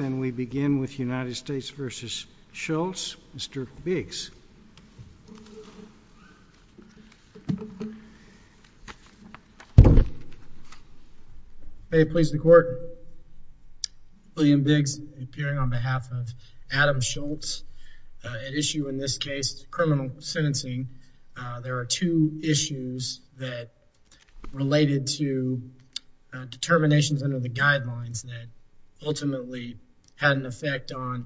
Then we begin with United States v. Schultz. Mr. Biggs. May it please the court. William Biggs, appearing on behalf of Adam Schultz, at issue in this case is criminal sentencing. There are two issues that are related to determinations under the guidelines that ultimately had an effect on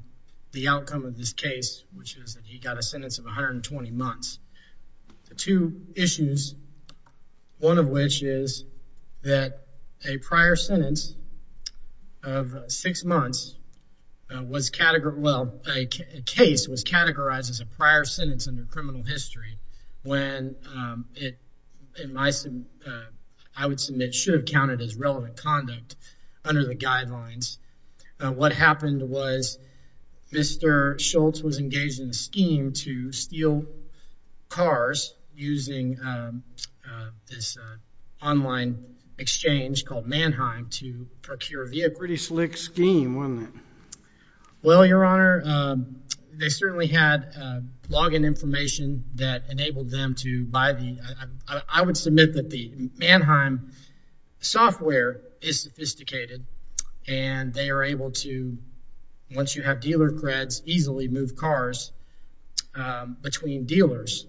the outcome of this case, which is that he got a sentence of 120 months. The two issues, one of which is that a prior sentence of six months was categorized, well, a case was categorized as a prior sentence under the guidelines. I would submit should have counted as relevant conduct under the guidelines. What happened was Mr. Schultz was engaged in a scheme to steal cars using this online exchange called Mannheim to procure a vehicle. Pretty slick scheme, wasn't it? Well, your honor, they certainly had login information that enabled them to buy the, I would submit that the Mannheim software is sophisticated and they are able to, once you have dealer creds, easily move cars between dealers.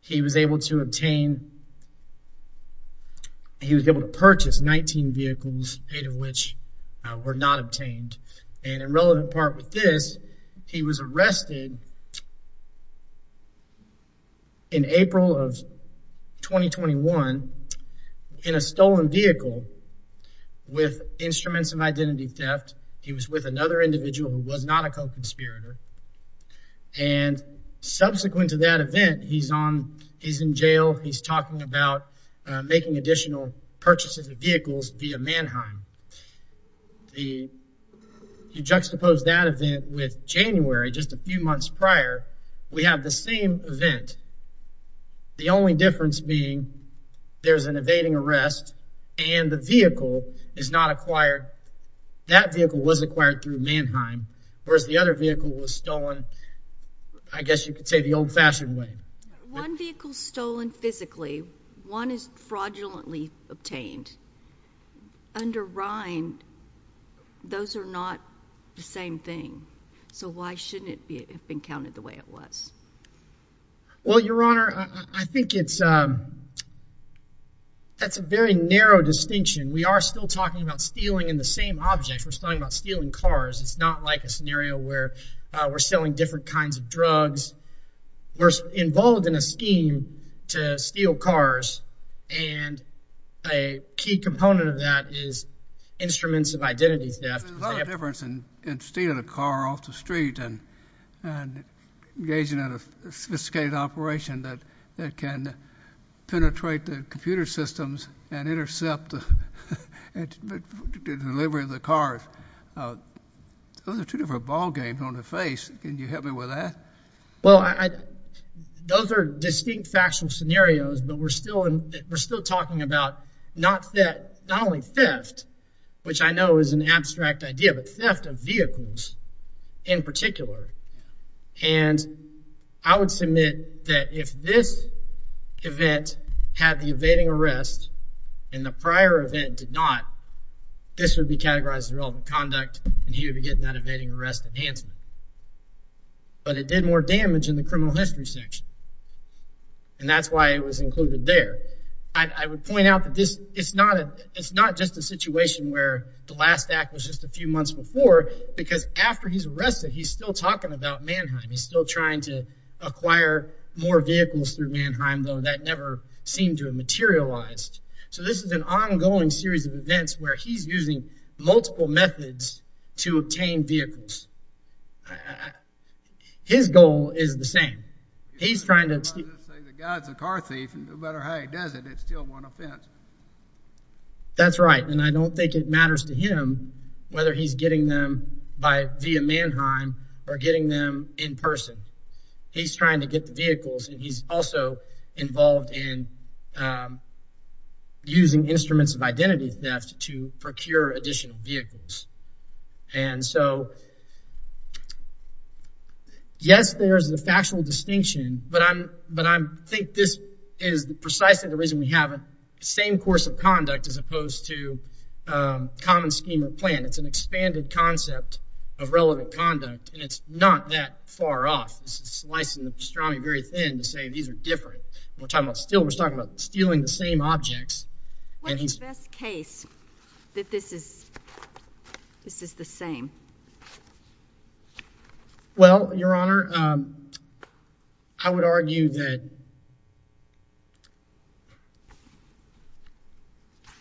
He was able to obtain, he was able to purchase 19 vehicles, eight of which were not obtained. And in relevant part with this, he was arrested in April of 2021 in a stolen vehicle with instruments of identity theft. He was with another individual who was not a co-conspirator. And subsequent to that event, he's in jail. He's talking about making additional purchases of vehicles via Mannheim. You juxtapose that event with January, just a few months prior, we have the same event. The only difference being there's an evading arrest and the vehicle is not acquired. That vehicle was acquired through Mannheim, whereas the other vehicle was stolen, I guess you could say the old fashioned way. One vehicle stolen physically, one is fraudulently obtained. Under RIND, those are not the same thing. So why shouldn't it have been counted the way it was? Well, your honor, I think it's, that's a very narrow distinction. We are still talking about stealing in the same object. We're talking about stealing cars. It's not like a scenario where we're selling different kinds of drugs. We're involved in a scheme to steal cars. And a key component of that is instruments of identity theft. There's a lot of difference in stealing a car off the street and engaging in a sophisticated operation that can penetrate the computer systems and intercept the delivery of the cars. Those are two different ball games on the face. Can you help me with that? Well, those are distinct factual scenarios, but we're still talking about not only theft, which I know is an abstract idea, but theft of vehicles in particular. And I would submit that if this event had the evading arrest and the prior event did not, this would be categorized as relevant conduct, and he would be getting that evading arrest enhancement. But it did more damage in the criminal history section. And that's why it was included there. I would point out that this, it's not just a situation where the last act was just a few months before, because after he's arrested, he's still talking about Mannheim. He's still trying to acquire more vehicles through Mannheim, though that never seemed to have materialized. So this is an ongoing series of events where he's using multiple methods to obtain vehicles. His goal is the same. He's trying to... He's trying to say the guy's a car thief, and no matter how he does it, it's still one offense. That's right. And I don't think it matters to him whether he's getting them via Mannheim or getting them in person. He's trying to get the vehicles, and he's also involved in using instruments of identity theft to procure additional vehicles. And so, yes, there is a factual distinction, but I think this is precisely the reason we have a same course of conduct as opposed to a common scheme or plan. It's an expanded concept of relevant conduct, and it's not that far off. This is slicing the pastrami very thin to say these are different. We're talking about stealing the same objects. What's the best case that this is the same? Well, Your Honor, I would argue that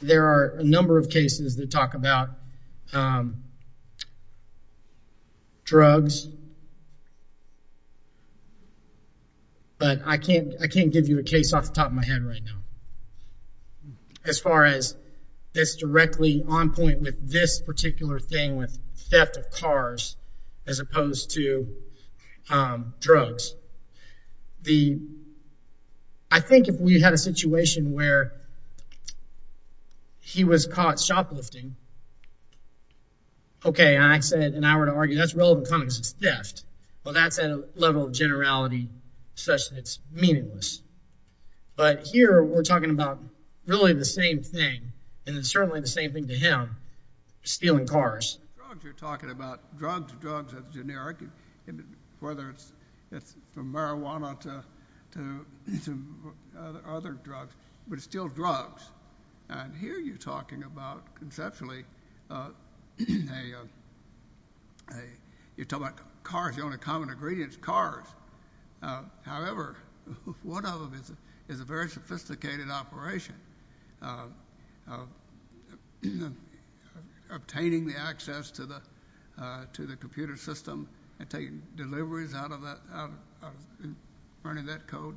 there are a number of cases that talk about drugs, but I can't give you a case off the top of my head right now as far as this directly on point with this particular thing with theft of cars as opposed to drugs. I think if we had a situation where he was caught shoplifting, okay, and I said, and I would argue that's relevant because it's theft. Well, that's at a level of generality such that it's meaningless. But here, we're talking about really the same thing, and it's certainly the same thing to him, stealing cars. You're talking about drugs. Drugs are generic, whether it's from marijuana to other drugs, but it's still drugs. And here, you're talking about conceptually, you're talking about cars. The only common ingredient is cars. However, one of them is a very sophisticated operation of obtaining the access to the computer system and taking deliveries out of that, running that code.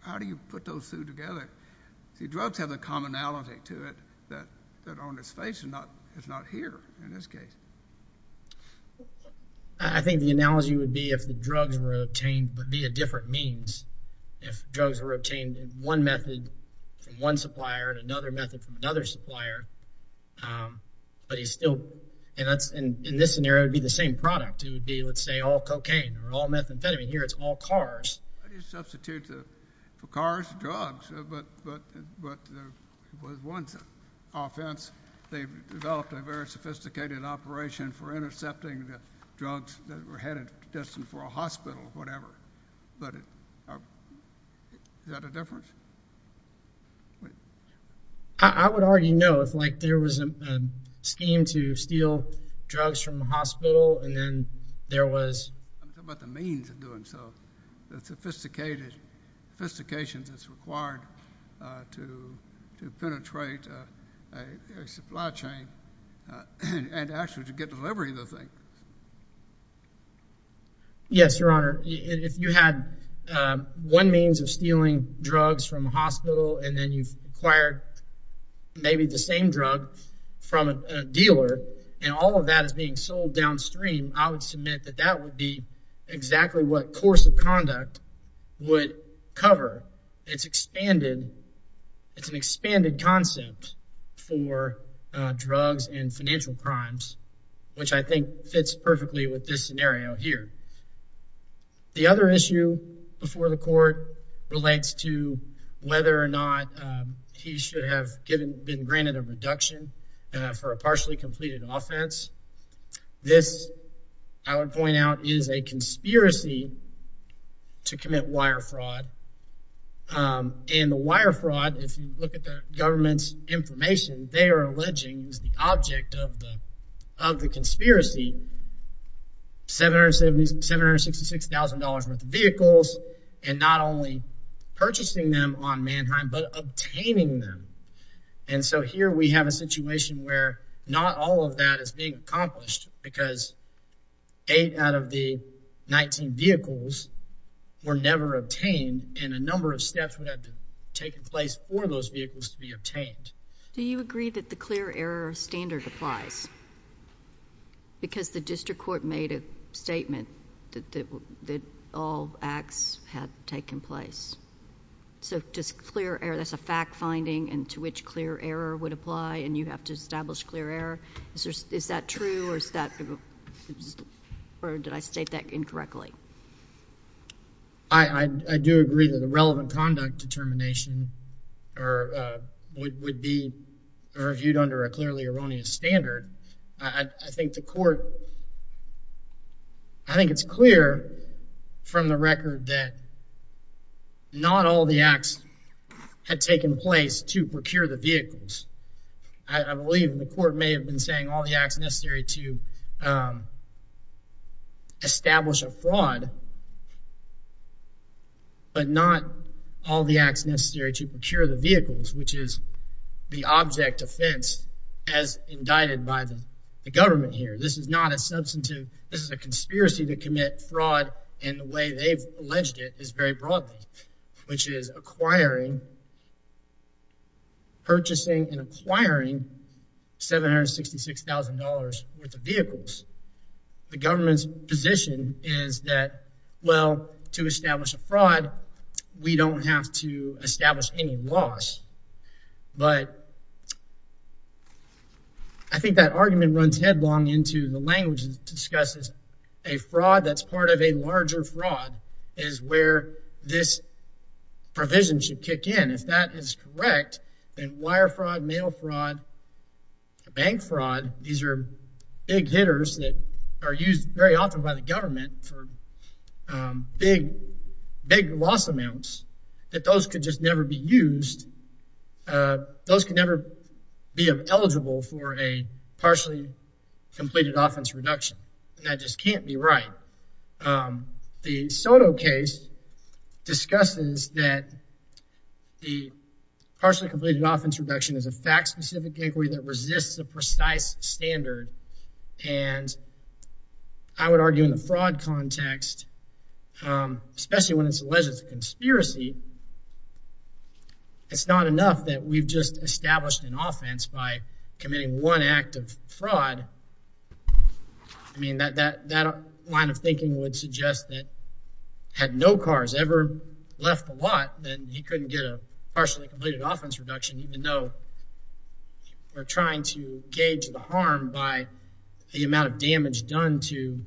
How do you put those two together? See, drugs have a commonality to it that on its face is not here in this case. I think the analogy would be if the drugs were obtained in one method from one supplier and another method from another supplier, but he's still, and in this scenario, it would be the same product. It would be, let's say, all cocaine or all methamphetamine. Here, it's all cars. How do you substitute the cars, drugs, but there was one offense. They developed a very sophisticated operation for intercepting the drugs that were headed, destined for a hospital, whatever. But is that a difference? I would argue no. It's like there was a scheme to steal drugs from a hospital, and then there was... I'm talking about the means of doing so. The sophistication that's required to penetrate a supply chain and actually to get delivery of the drug. Yes, Your Honor. If you had one means of stealing drugs from a hospital, and then you've acquired maybe the same drug from a dealer, and all of that is being sold downstream, I would submit that that would be exactly what course of conduct would cover. It's expanded. It's an expanded concept for drugs and financial crimes, which I think fits perfectly with this scenario here. The other issue before the court relates to whether or not he should have been granted a reduction for a partially completed offense. This, I would point out, is a conspiracy to commit wire fraud. And the wire fraud, if you look at the government's information, they are alleging is the object of the conspiracy, $766,000 worth of vehicles, and not only purchasing them on Mannheim, but obtaining them. And so here we have a situation where not all of that is being accomplished because 8 out of the 19 vehicles were never obtained, and a number of steps would have to take place for those vehicles to be obtained. Do you agree that the clear error standard applies? Because the district court made a statement that all acts had taken place. So just clear error, that's a fact-finding, and to which clear error would apply, and you have to establish clear error. Is that true, or did I state that incorrectly? I do agree that the relevant conduct determination would be reviewed under a clearly erroneous standard. I think the court, I think it's clear from the record that not all the acts had taken place to procure the vehicles. I believe the court may have been saying all the acts necessary to establish a fraud, but not all the acts necessary to procure the vehicles, which is the object offense as indicted by the government here. This is not a substantive, this is a conspiracy to commit fraud, and the way they've alleged it is very broad, which is acquiring, purchasing and acquiring $766,000 worth of vehicles. The government's position is that, well, to establish a fraud, we don't have to establish any loss, but I think that argument runs headlong into the language that discusses a fraud that's part of a larger fraud is where this provision should kick in. If that is correct, then wire fraud, mail fraud, bank fraud, these are big hitters that are used very often by the government for big, big loss amounts that those could just never be used. Those can never be eligible for a partially completed offense reduction. That just can't be right. The Soto case discusses that the partially completed offense reduction is a fact-specific inquiry that resists a precise standard, and I would argue in the fraud context, especially when it's alleged it's a conspiracy, it's not enough that we've just established an offense by committing one act of fraud. I mean, that line of thinking would suggest that had no cars ever left the lot, then he couldn't get a partially completed offense reduction, even though we're trying to gauge the harm by the amount of damage done to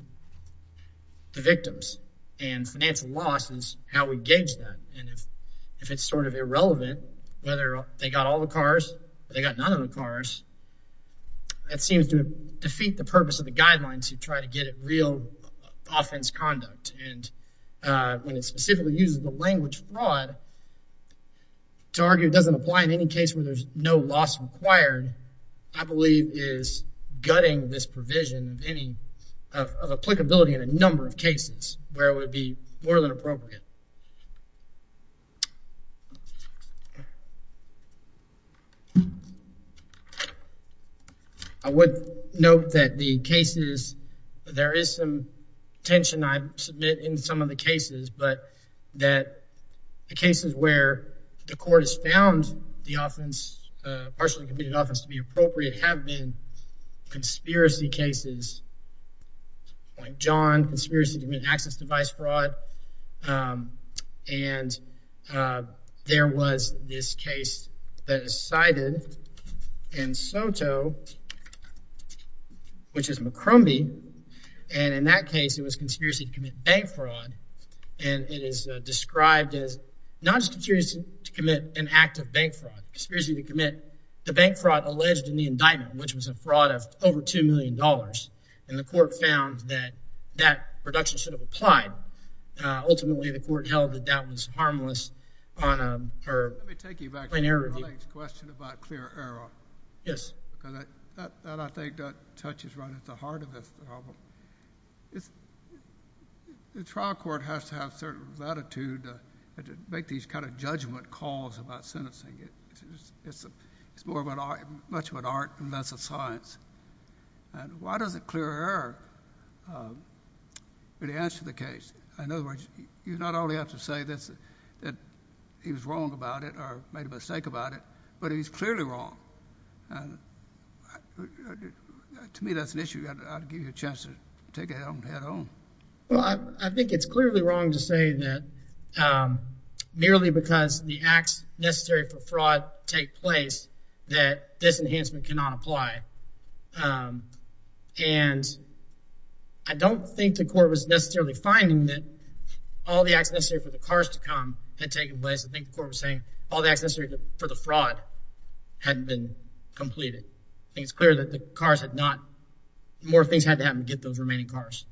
the victims, and financial loss is how we gauge that. And if it's sort of irrelevant, whether they got all the cars or they got none of the cars, that seems to defeat the purpose of the guidelines to try to get it real offense conduct. And when it specifically uses the language fraud to argue it doesn't apply in any case where there's no loss required, I believe is gutting this provision of any of applicability in a number of cases where it would be more than appropriate. I would note that the cases, there is some tension I've submitted in some of the cases, but that the cases where the court has found the offense, partially completed offense, to be appropriate have been conspiracy cases. Like John, conspiracy to commit access device fraud, and there was this case that is cited in SOTO, which is McCrumbie, and in that case it was conspiracy to commit bank fraud, and it is described as not just conspiracy to commit an act of bank fraud, conspiracy to commit the bank fraud alleged in the indictment, which was a fraud of over two million dollars, and the court found that that reduction should apply. Ultimately, the court held that that was harmless on a plain error review. Let me take you back to your colleague's question about clear error. Yes. Because that, I think, touches right at the heart of this problem. The trial court has to have a certain latitude to make these kind of judgment calls about sentencing. It's more about, much about art than that's a science. And why does it clear error? The answer to the case, in other words, you not only have to say this, that he was wrong about it or made a mistake about it, but he's clearly wrong. To me, that's an issue. I'll give you a chance to take it on head on. Well, I think it's clearly wrong to say that merely because the acts necessary for fraud take place that this enhancement cannot apply. And I don't think the court was necessarily finding that all the acts necessary for the cars to come had taken place. I think the court was saying all the acts necessary for the fraud hadn't been completed. I think it's clear that the cars had not. More things had to happen to get those remaining cars.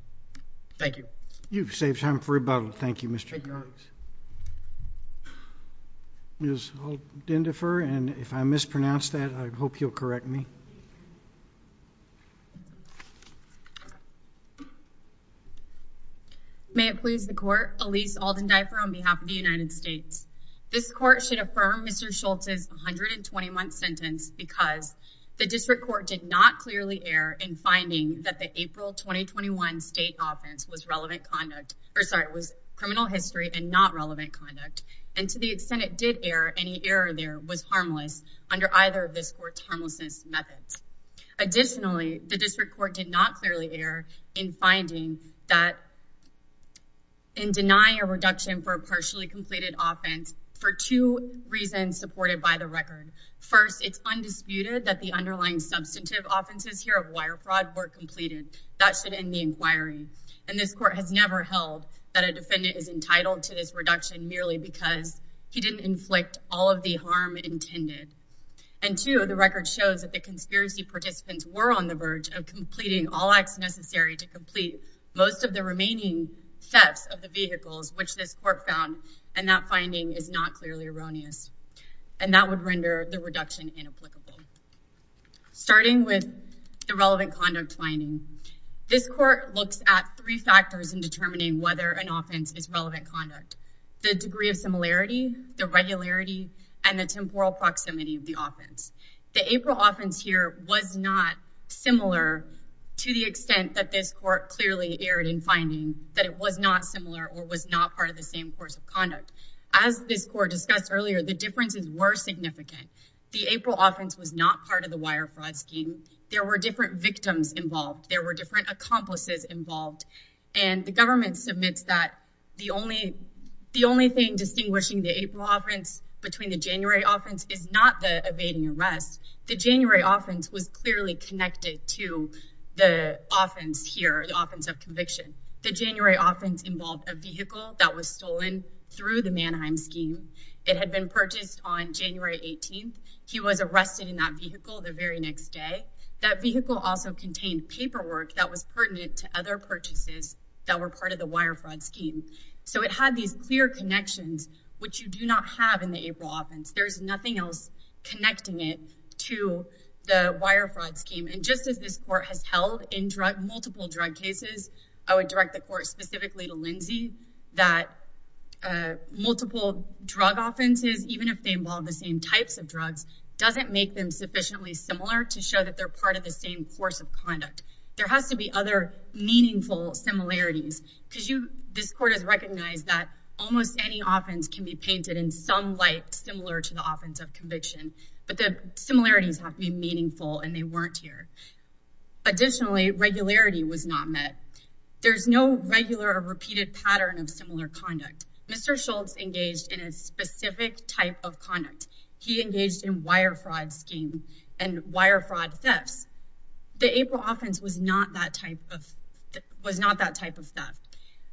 Thank you. You've saved time for rebuttal. Thank you, Mr. Jones. Yes, I'll dendifer. And if I mispronounce that, I hope you'll correct me. May it please the court. Elise Alden diaper on behalf of the United States. This court should affirm Mr Schultz is 121 sentence because the district court did not clearly air in finding that the April 2021 state offense was relevant conduct. Or sorry, it was criminal history and not relevant conduct. And to the extent it did air any error, there was harmless under either of this court's homelessness methods. Additionally, the district court did not clearly air in finding that in denying a reduction for a partially completed offense for two reasons supported by the record. First, it's undisputed that the underlying substantive offenses here of wire fraud were completed. That should end inquiry. And this court has never held that a defendant is entitled to this reduction merely because he didn't inflict all of the harm intended. And to the record shows that the conspiracy participants were on the verge of completing all acts necessary to complete most of the remaining steps of the vehicles, which this court found. And that finding is not clearly erroneous. And that would render the reduction inapplicable. Starting with the relevant conduct finding, this court looks at three factors in determining whether an offense is relevant conduct, the degree of similarity, the regularity, and the temporal proximity of the offense. The April offense here was not similar to the extent that this court clearly aired in finding that it was not similar or was not part of the same course of conduct. As this court discussed earlier, the differences were significant. The April offense was not part of the wire fraud scheme. There were different victims involved. There were different accomplices involved. And the government submits that the only thing distinguishing the April offense between the January offense is not the evading arrest. The January offense was clearly connected to the offense here, the offense of conviction. The January offense involved a vehicle that was stolen through the Manheim scheme. It had been purchased on January 18th. He was arrested in that vehicle the very next day. That vehicle also contained paperwork that was pertinent to other purchases that were part of the wire fraud scheme. So it had these clear connections, which you do not have in the April offense. There's nothing else connecting it to the wire fraud scheme. And just as this court has held multiple drug cases, I would direct the court specifically to Lindsey that multiple drug offenses, even if they involve the same types of drugs, doesn't make them sufficiently similar to show that they're part of the same course of conduct. There has to be other meaningful similarities because this court has recognized that almost any offense can be painted in some light similar to the offense of conviction. But the similarities have to be meaningful, and they weren't here. Additionally, regularity was not met. There's no regular or repeated pattern of similar conduct. Mr. Schultz engaged in a specific type of conduct. He engaged in wire fraud scheme and wire fraud thefts. The April offense was not that type of was not that type of theft.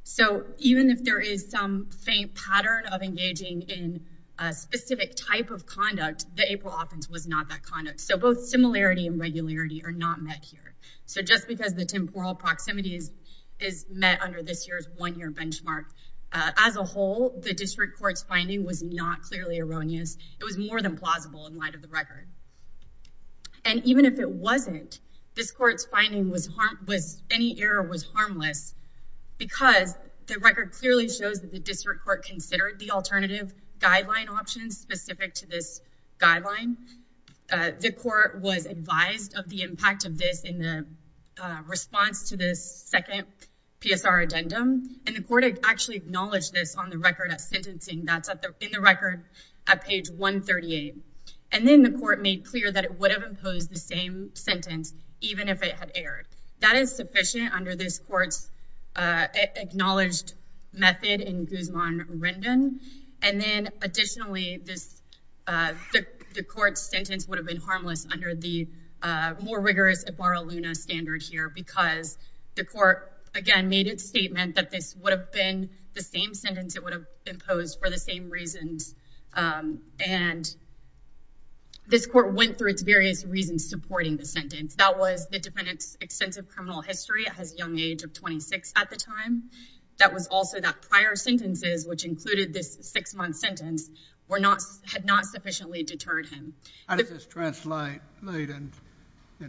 So even if there is some faint pattern of engaging in a specific type of conduct, the April offense was not that conduct. So both similarity and regularity are not met here. So just because the temporal proximity is met under this year's one-year benchmark as a whole, the district court's finding was not clearly erroneous. It was more than plausible in light of the record. And even if it wasn't, this court's finding was any error was harmless because the record clearly shows that the district court considered the alternative guideline options specific to this guideline. The court was advised of the impact of this in the response to this second PSR addendum, and the court actually acknowledged this on the record at sentencing. That's in the record at page 138. And then the court made clear that it would have imposed the same sentence even if it had erred. That is sufficient under this court's acknowledged method in Guzman-Rendon. And then additionally, the court's sentence would have been harmless under the more rigorous Ibarra-Luna standard here because the court, again, made its statement that this would have been the same sentence it would have imposed for the same reasons. And this court went through its various reasons supporting the sentence. That was the defendant's criminal history. It has a young age of 26 at the time. That was also that prior sentences, which included this six-month sentence, had not sufficiently deterred him. How does this translate in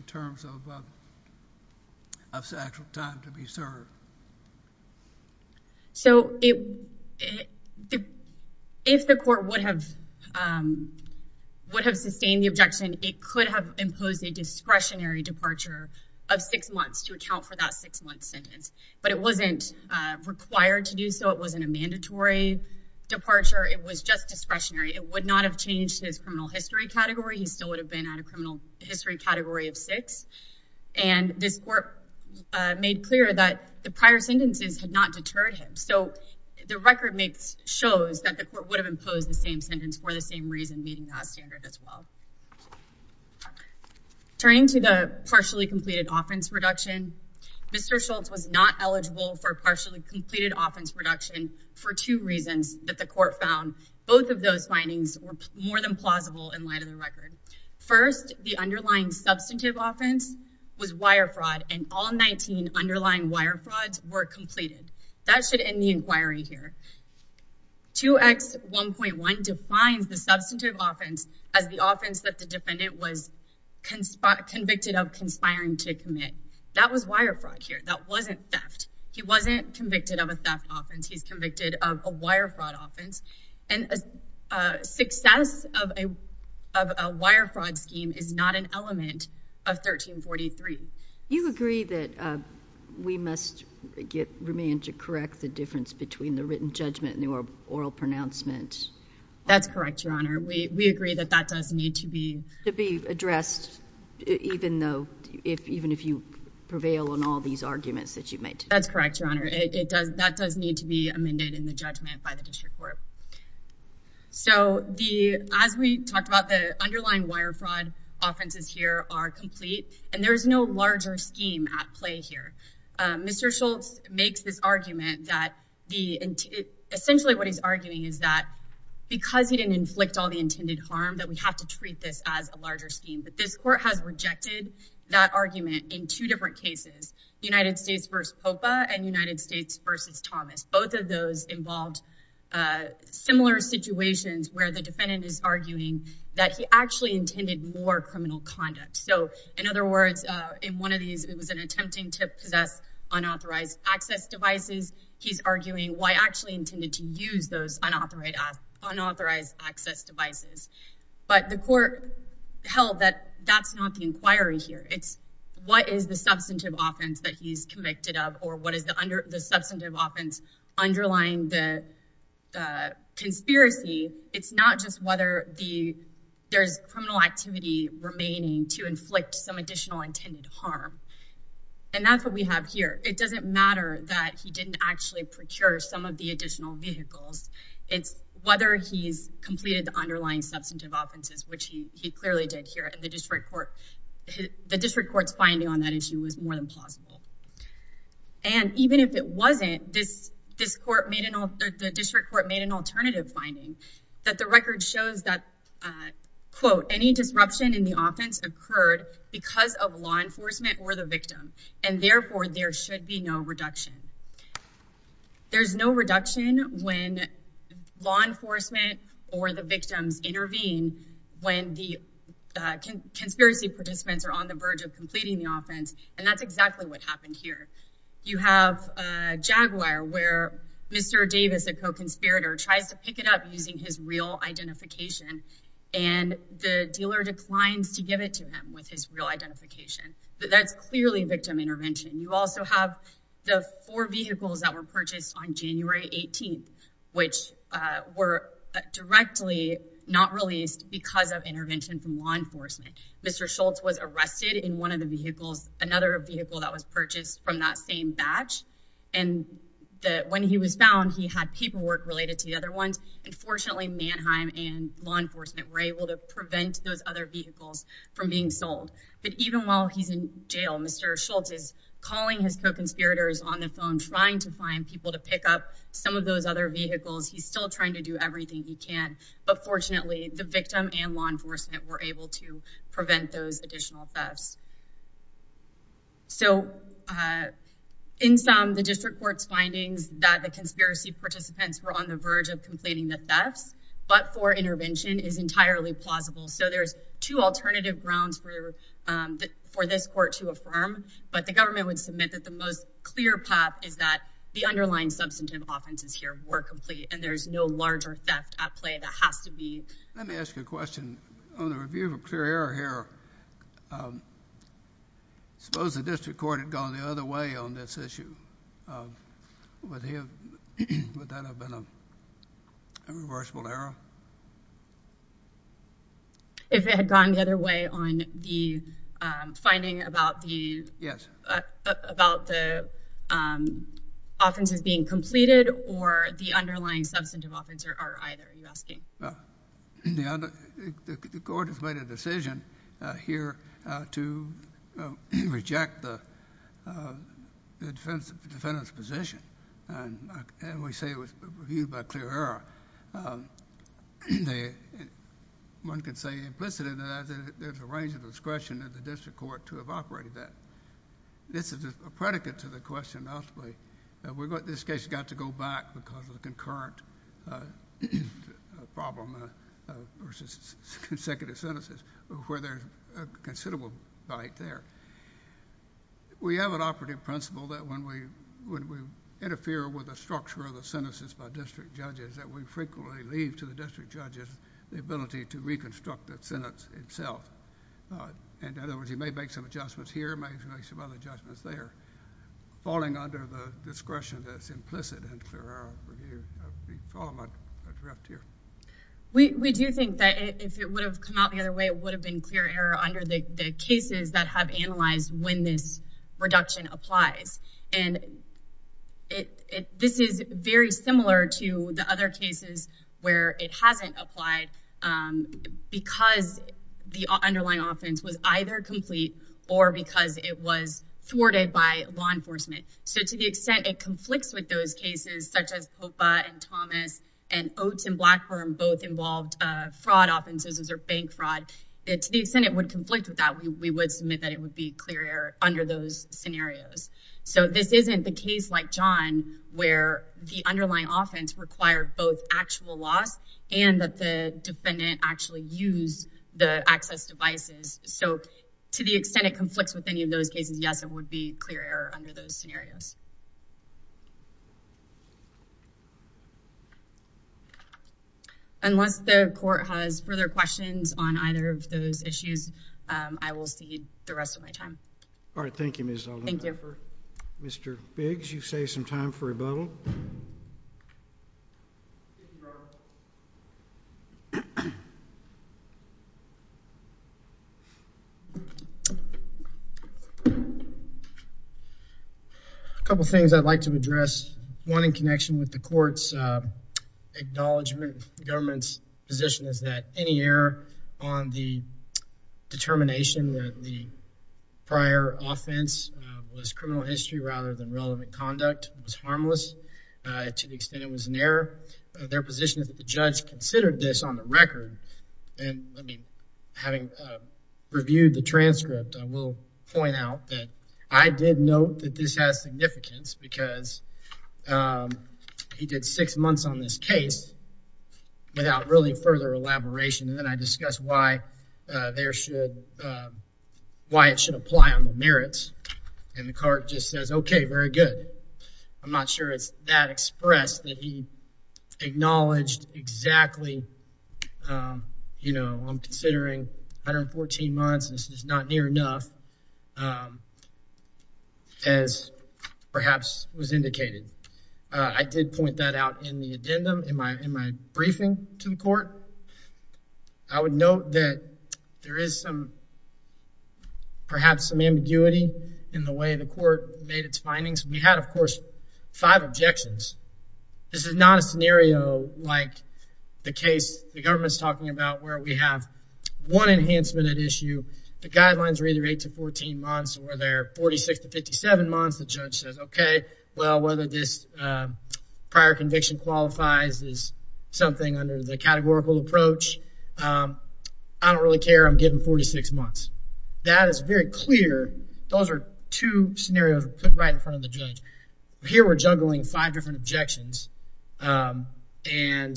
terms of actual time to be served? So if the court would have sustained the objection, it could have imposed a discretionary of six months to account for that six-month sentence, but it wasn't required to do so. It wasn't a mandatory departure. It was just discretionary. It would not have changed his criminal history category. He still would have been at a criminal history category of six. And this court made clear that the prior sentences had not deterred him. So the record shows that the court would have imposed the same sentence for the same reason, as well. Turning to the partially completed offense reduction, Mr. Schultz was not eligible for partially completed offense reduction for two reasons that the court found. Both of those findings were more than plausible in light of the record. First, the underlying substantive offense was wire fraud, and all 19 underlying wire frauds were completed. That should end the inquiry here. 2X1.1 defines the substantive offense as the offense that the defendant was convicted of conspiring to commit. That was wire fraud here. That wasn't theft. He wasn't convicted of a theft offense. He's convicted of a wire fraud offense, and a success of a wire fraud scheme is not an element of 1343. You agree that we must remain to correct the written judgment in the oral pronouncement? That's correct, Your Honor. We agree that that does need to be addressed, even if you prevail on all these arguments that you've made. That's correct, Your Honor. That does need to be amended in the judgment by the district court. So as we talked about, the underlying wire fraud offenses here are complete, and there's no larger scheme at play here. Mr. Schultz makes this argument that essentially what he's arguing is that because he didn't inflict all the intended harm, that we have to treat this as a larger scheme. But this court has rejected that argument in two different cases, United States v. Popa and United States v. Thomas. Both of those involved similar situations where the defendant is arguing that he actually intended more criminal conduct. So in other words, in one of these, it was an attempting to possess unauthorized access devices. He's arguing why actually intended to use those unauthorized access devices. But the court held that that's not the inquiry here. It's what is the substantive offense that he's convicted of, or what is the substantive offense underlying the conspiracy? It's not just whether there's criminal activity remaining to inflict some additional intended harm. And that's what we have here. It doesn't matter that he didn't actually procure some of the additional vehicles. It's whether he's completed the underlying substantive offenses, which he clearly did here, and the district court's finding on that issue is more than plausible. And even if it wasn't, the district court made an alternative finding that the record shows that, quote, any disruption in the offense occurred because of law enforcement or the victim, and therefore there should be no reduction. There's no reduction when law enforcement or the victims intervene when the conspiracy participants are on the verge of completing the offense, and that's exactly what happened here. You have Jaguar, where Mr. Davis, a co-conspirator, tries to pick it up using his real identification, and the dealer declines to give it to him with his real identification. That's clearly victim intervention. You also have the four vehicles that were purchased on January 18th, which were directly not released because of intervention from law enforcement. Mr. Schultz was arrested in one of the vehicles, another vehicle that was purchased from that same batch, and when he was found, he had paperwork related to the other ones, and fortunately Manheim and law enforcement were able to prevent those other vehicles from being sold. But even while he's in jail, Mr. Schultz is calling his co-conspirators on the phone, trying to find people to pick up some of those other vehicles. He's still trying to do everything he can, but fortunately the victim and law enforcement were able to prevent those additional thefts. So in sum, the district court's findings that the conspiracy participants were on the verge of completing the thefts, but for intervention, is entirely plausible. So there's two alternative grounds for this court to affirm, but the government would submit that the most at play that has to be. Let me ask you a question. On the review of a clear error here, suppose the district court had gone the other way on this issue. Would that have been a reversible error? If it had gone the other way on the finding about the offenses being completed, or the underlying substantive offense are either, are you asking? The court has made a decision here to reject the defendant's position, and we say it was reviewed by clear error. One could say implicitly that there's a range of discretion of the district court to have operated that. This is a predicate to the question ultimately. This case got to go back because of the concurrent problem versus consecutive sentences, where there's a considerable bite there. We have an operative principle that when we interfere with the structure of the sentences by district judges, that we frequently leave to the district judges the ability to reconstruct that sentence itself. In other words, you may make some adjustments here, you may make some other adjustments there, falling under the discretion that's implicit in clear error review. If I'm correct here. We do think that if it would have come out the other way, it would have been clear error under the cases that have analyzed when this reduction applies. This is very similar to the other cases where it hasn't applied because the underlying offense was either complete or because it was thwarted by law enforcement. So to the extent it conflicts with those cases such as Popa and Thomas and Oates and Blackburn both involved fraud offenses or bank fraud, to the extent it would conflict with that, we would submit that it would be clear error under those scenarios. So this isn't the case like John where the underlying actually use the access devices. So to the extent it conflicts with any of those cases, yes, it would be clear error under those scenarios. Unless the court has further questions on either of those issues, I will see the rest of my time. All right. Thank you. Mr. Biggs, you say some time for a bubble. A couple things I'd like to address. One in connection with the court's acknowledgment of the government's position is that any error on the determination that the prior offense was criminal history rather than relevant conduct was harmless. To the extent it was an error, their position is that the judge considered this on the record. And having reviewed the transcript, I will point out that I did note that this has significance because he did six months on this case without really further elaboration. And then I discussed why it should apply on the merits. And the court just says, okay, very good. I'm not sure it's that expressed that he acknowledged exactly, you know, I'm considering 114 months. This is not near enough as perhaps was indicated. I did point that out in the addendum in my briefing to the court. I would note that there is some, perhaps some ambiguity in the way the court made its findings. We had, of course, five objections. This is not a scenario like the case the government's talking about where we have one enhancement at issue. The guidelines were either eight to 14 months or they're 46 to 57 months. The judge says, okay, well, whether this prior conviction qualifies is something under the categorical approach, I don't really care. I'm giving 46 months. That is very clear. Those are two scenarios put right in front of the judge. Here we're juggling five different objections. And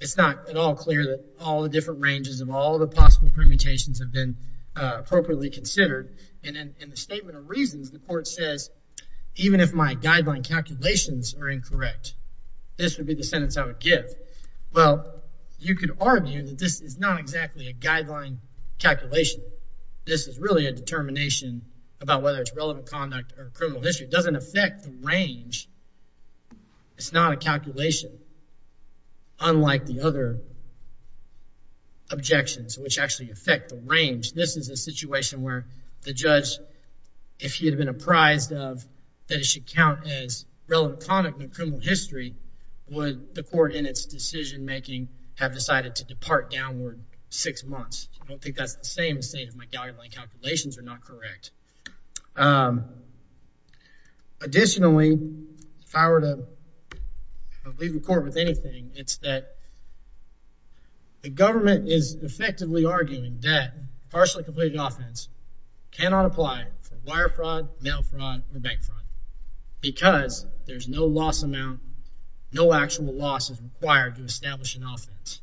it's not at all clear that all the different ranges of all the possible permutations have been appropriately considered. And in the statement of reasons, the court says, even if my guideline calculations are incorrect, this would be the sentence I would give. Well, you could argue that this is not exactly a guideline calculation. This is really a determination about whether it's relevant conduct or criminal history. It doesn't affect the range. It's not a calculation, unlike the other objections, which actually affect the range. This is a situation where the judge, if he had been apprised of that it should count as relevant conduct in criminal history, would the court in its decision-making have decided to calculate that the guidelines are not correct. Additionally, if I were to leave the court with anything, it's that the government is effectively arguing that partially completed offense cannot apply for wire fraud, mail fraud, or bank fraud because there's no loss amount, no actual loss required to establish an offense.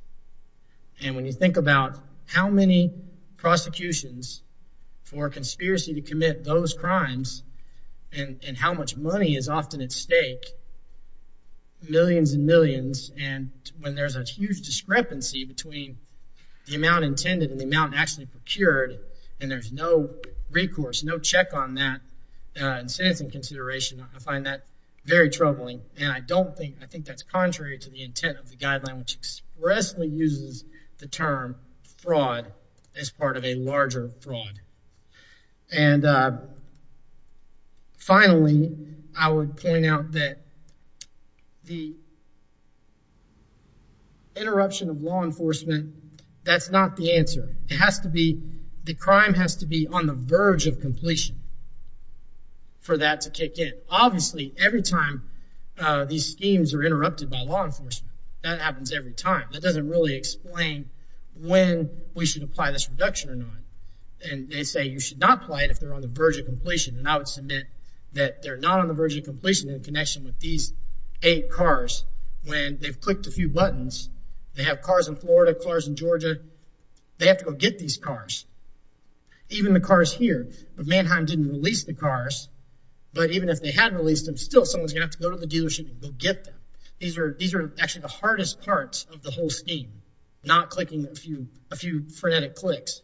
And when you think about how many prosecutions for conspiracy to commit those crimes and how much money is often at stake, millions and millions, and when there's a huge discrepancy between the amount intended and the amount actually procured, and there's no recourse, no check on that in sentencing consideration, I find that very intent of the guideline, which expressly uses the term fraud as part of a larger fraud. And finally, I would point out that the interruption of law enforcement, that's not the answer. It has to be, the crime has to be on the verge of completion for that to kick in. Obviously, every time these schemes are interrupted by law enforcement, that happens every time. That doesn't really explain when we should apply this reduction or not. And they say you should not apply it if they're on the verge of completion. And I would submit that they're not on the verge of completion in connection with these eight cars. When they've clicked a few buttons, they have cars in Florida, cars in Georgia, they have to go get these cars. Even the cars here, Mannheim didn't release the cars, but even if they had released them, still, someone's going to have to go to the dealership and go get them. These are actually the hardest parts of the whole scheme, not clicking a few frenetic clicks.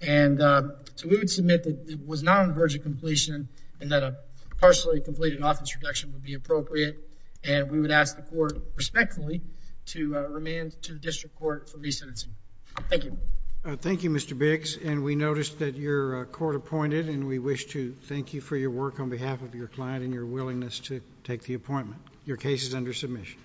And so we would submit that it was not on the verge of completion and that a partially completed office reduction would be appropriate. And we would ask the court respectfully to remand to the district court for re-sentencing. Thank you. Thank you, Mr. Biggs. And we noticed that your court appointed, and we wish to thank you for your work on behalf of your client and your willingness to take the appointment. Your case is under submission.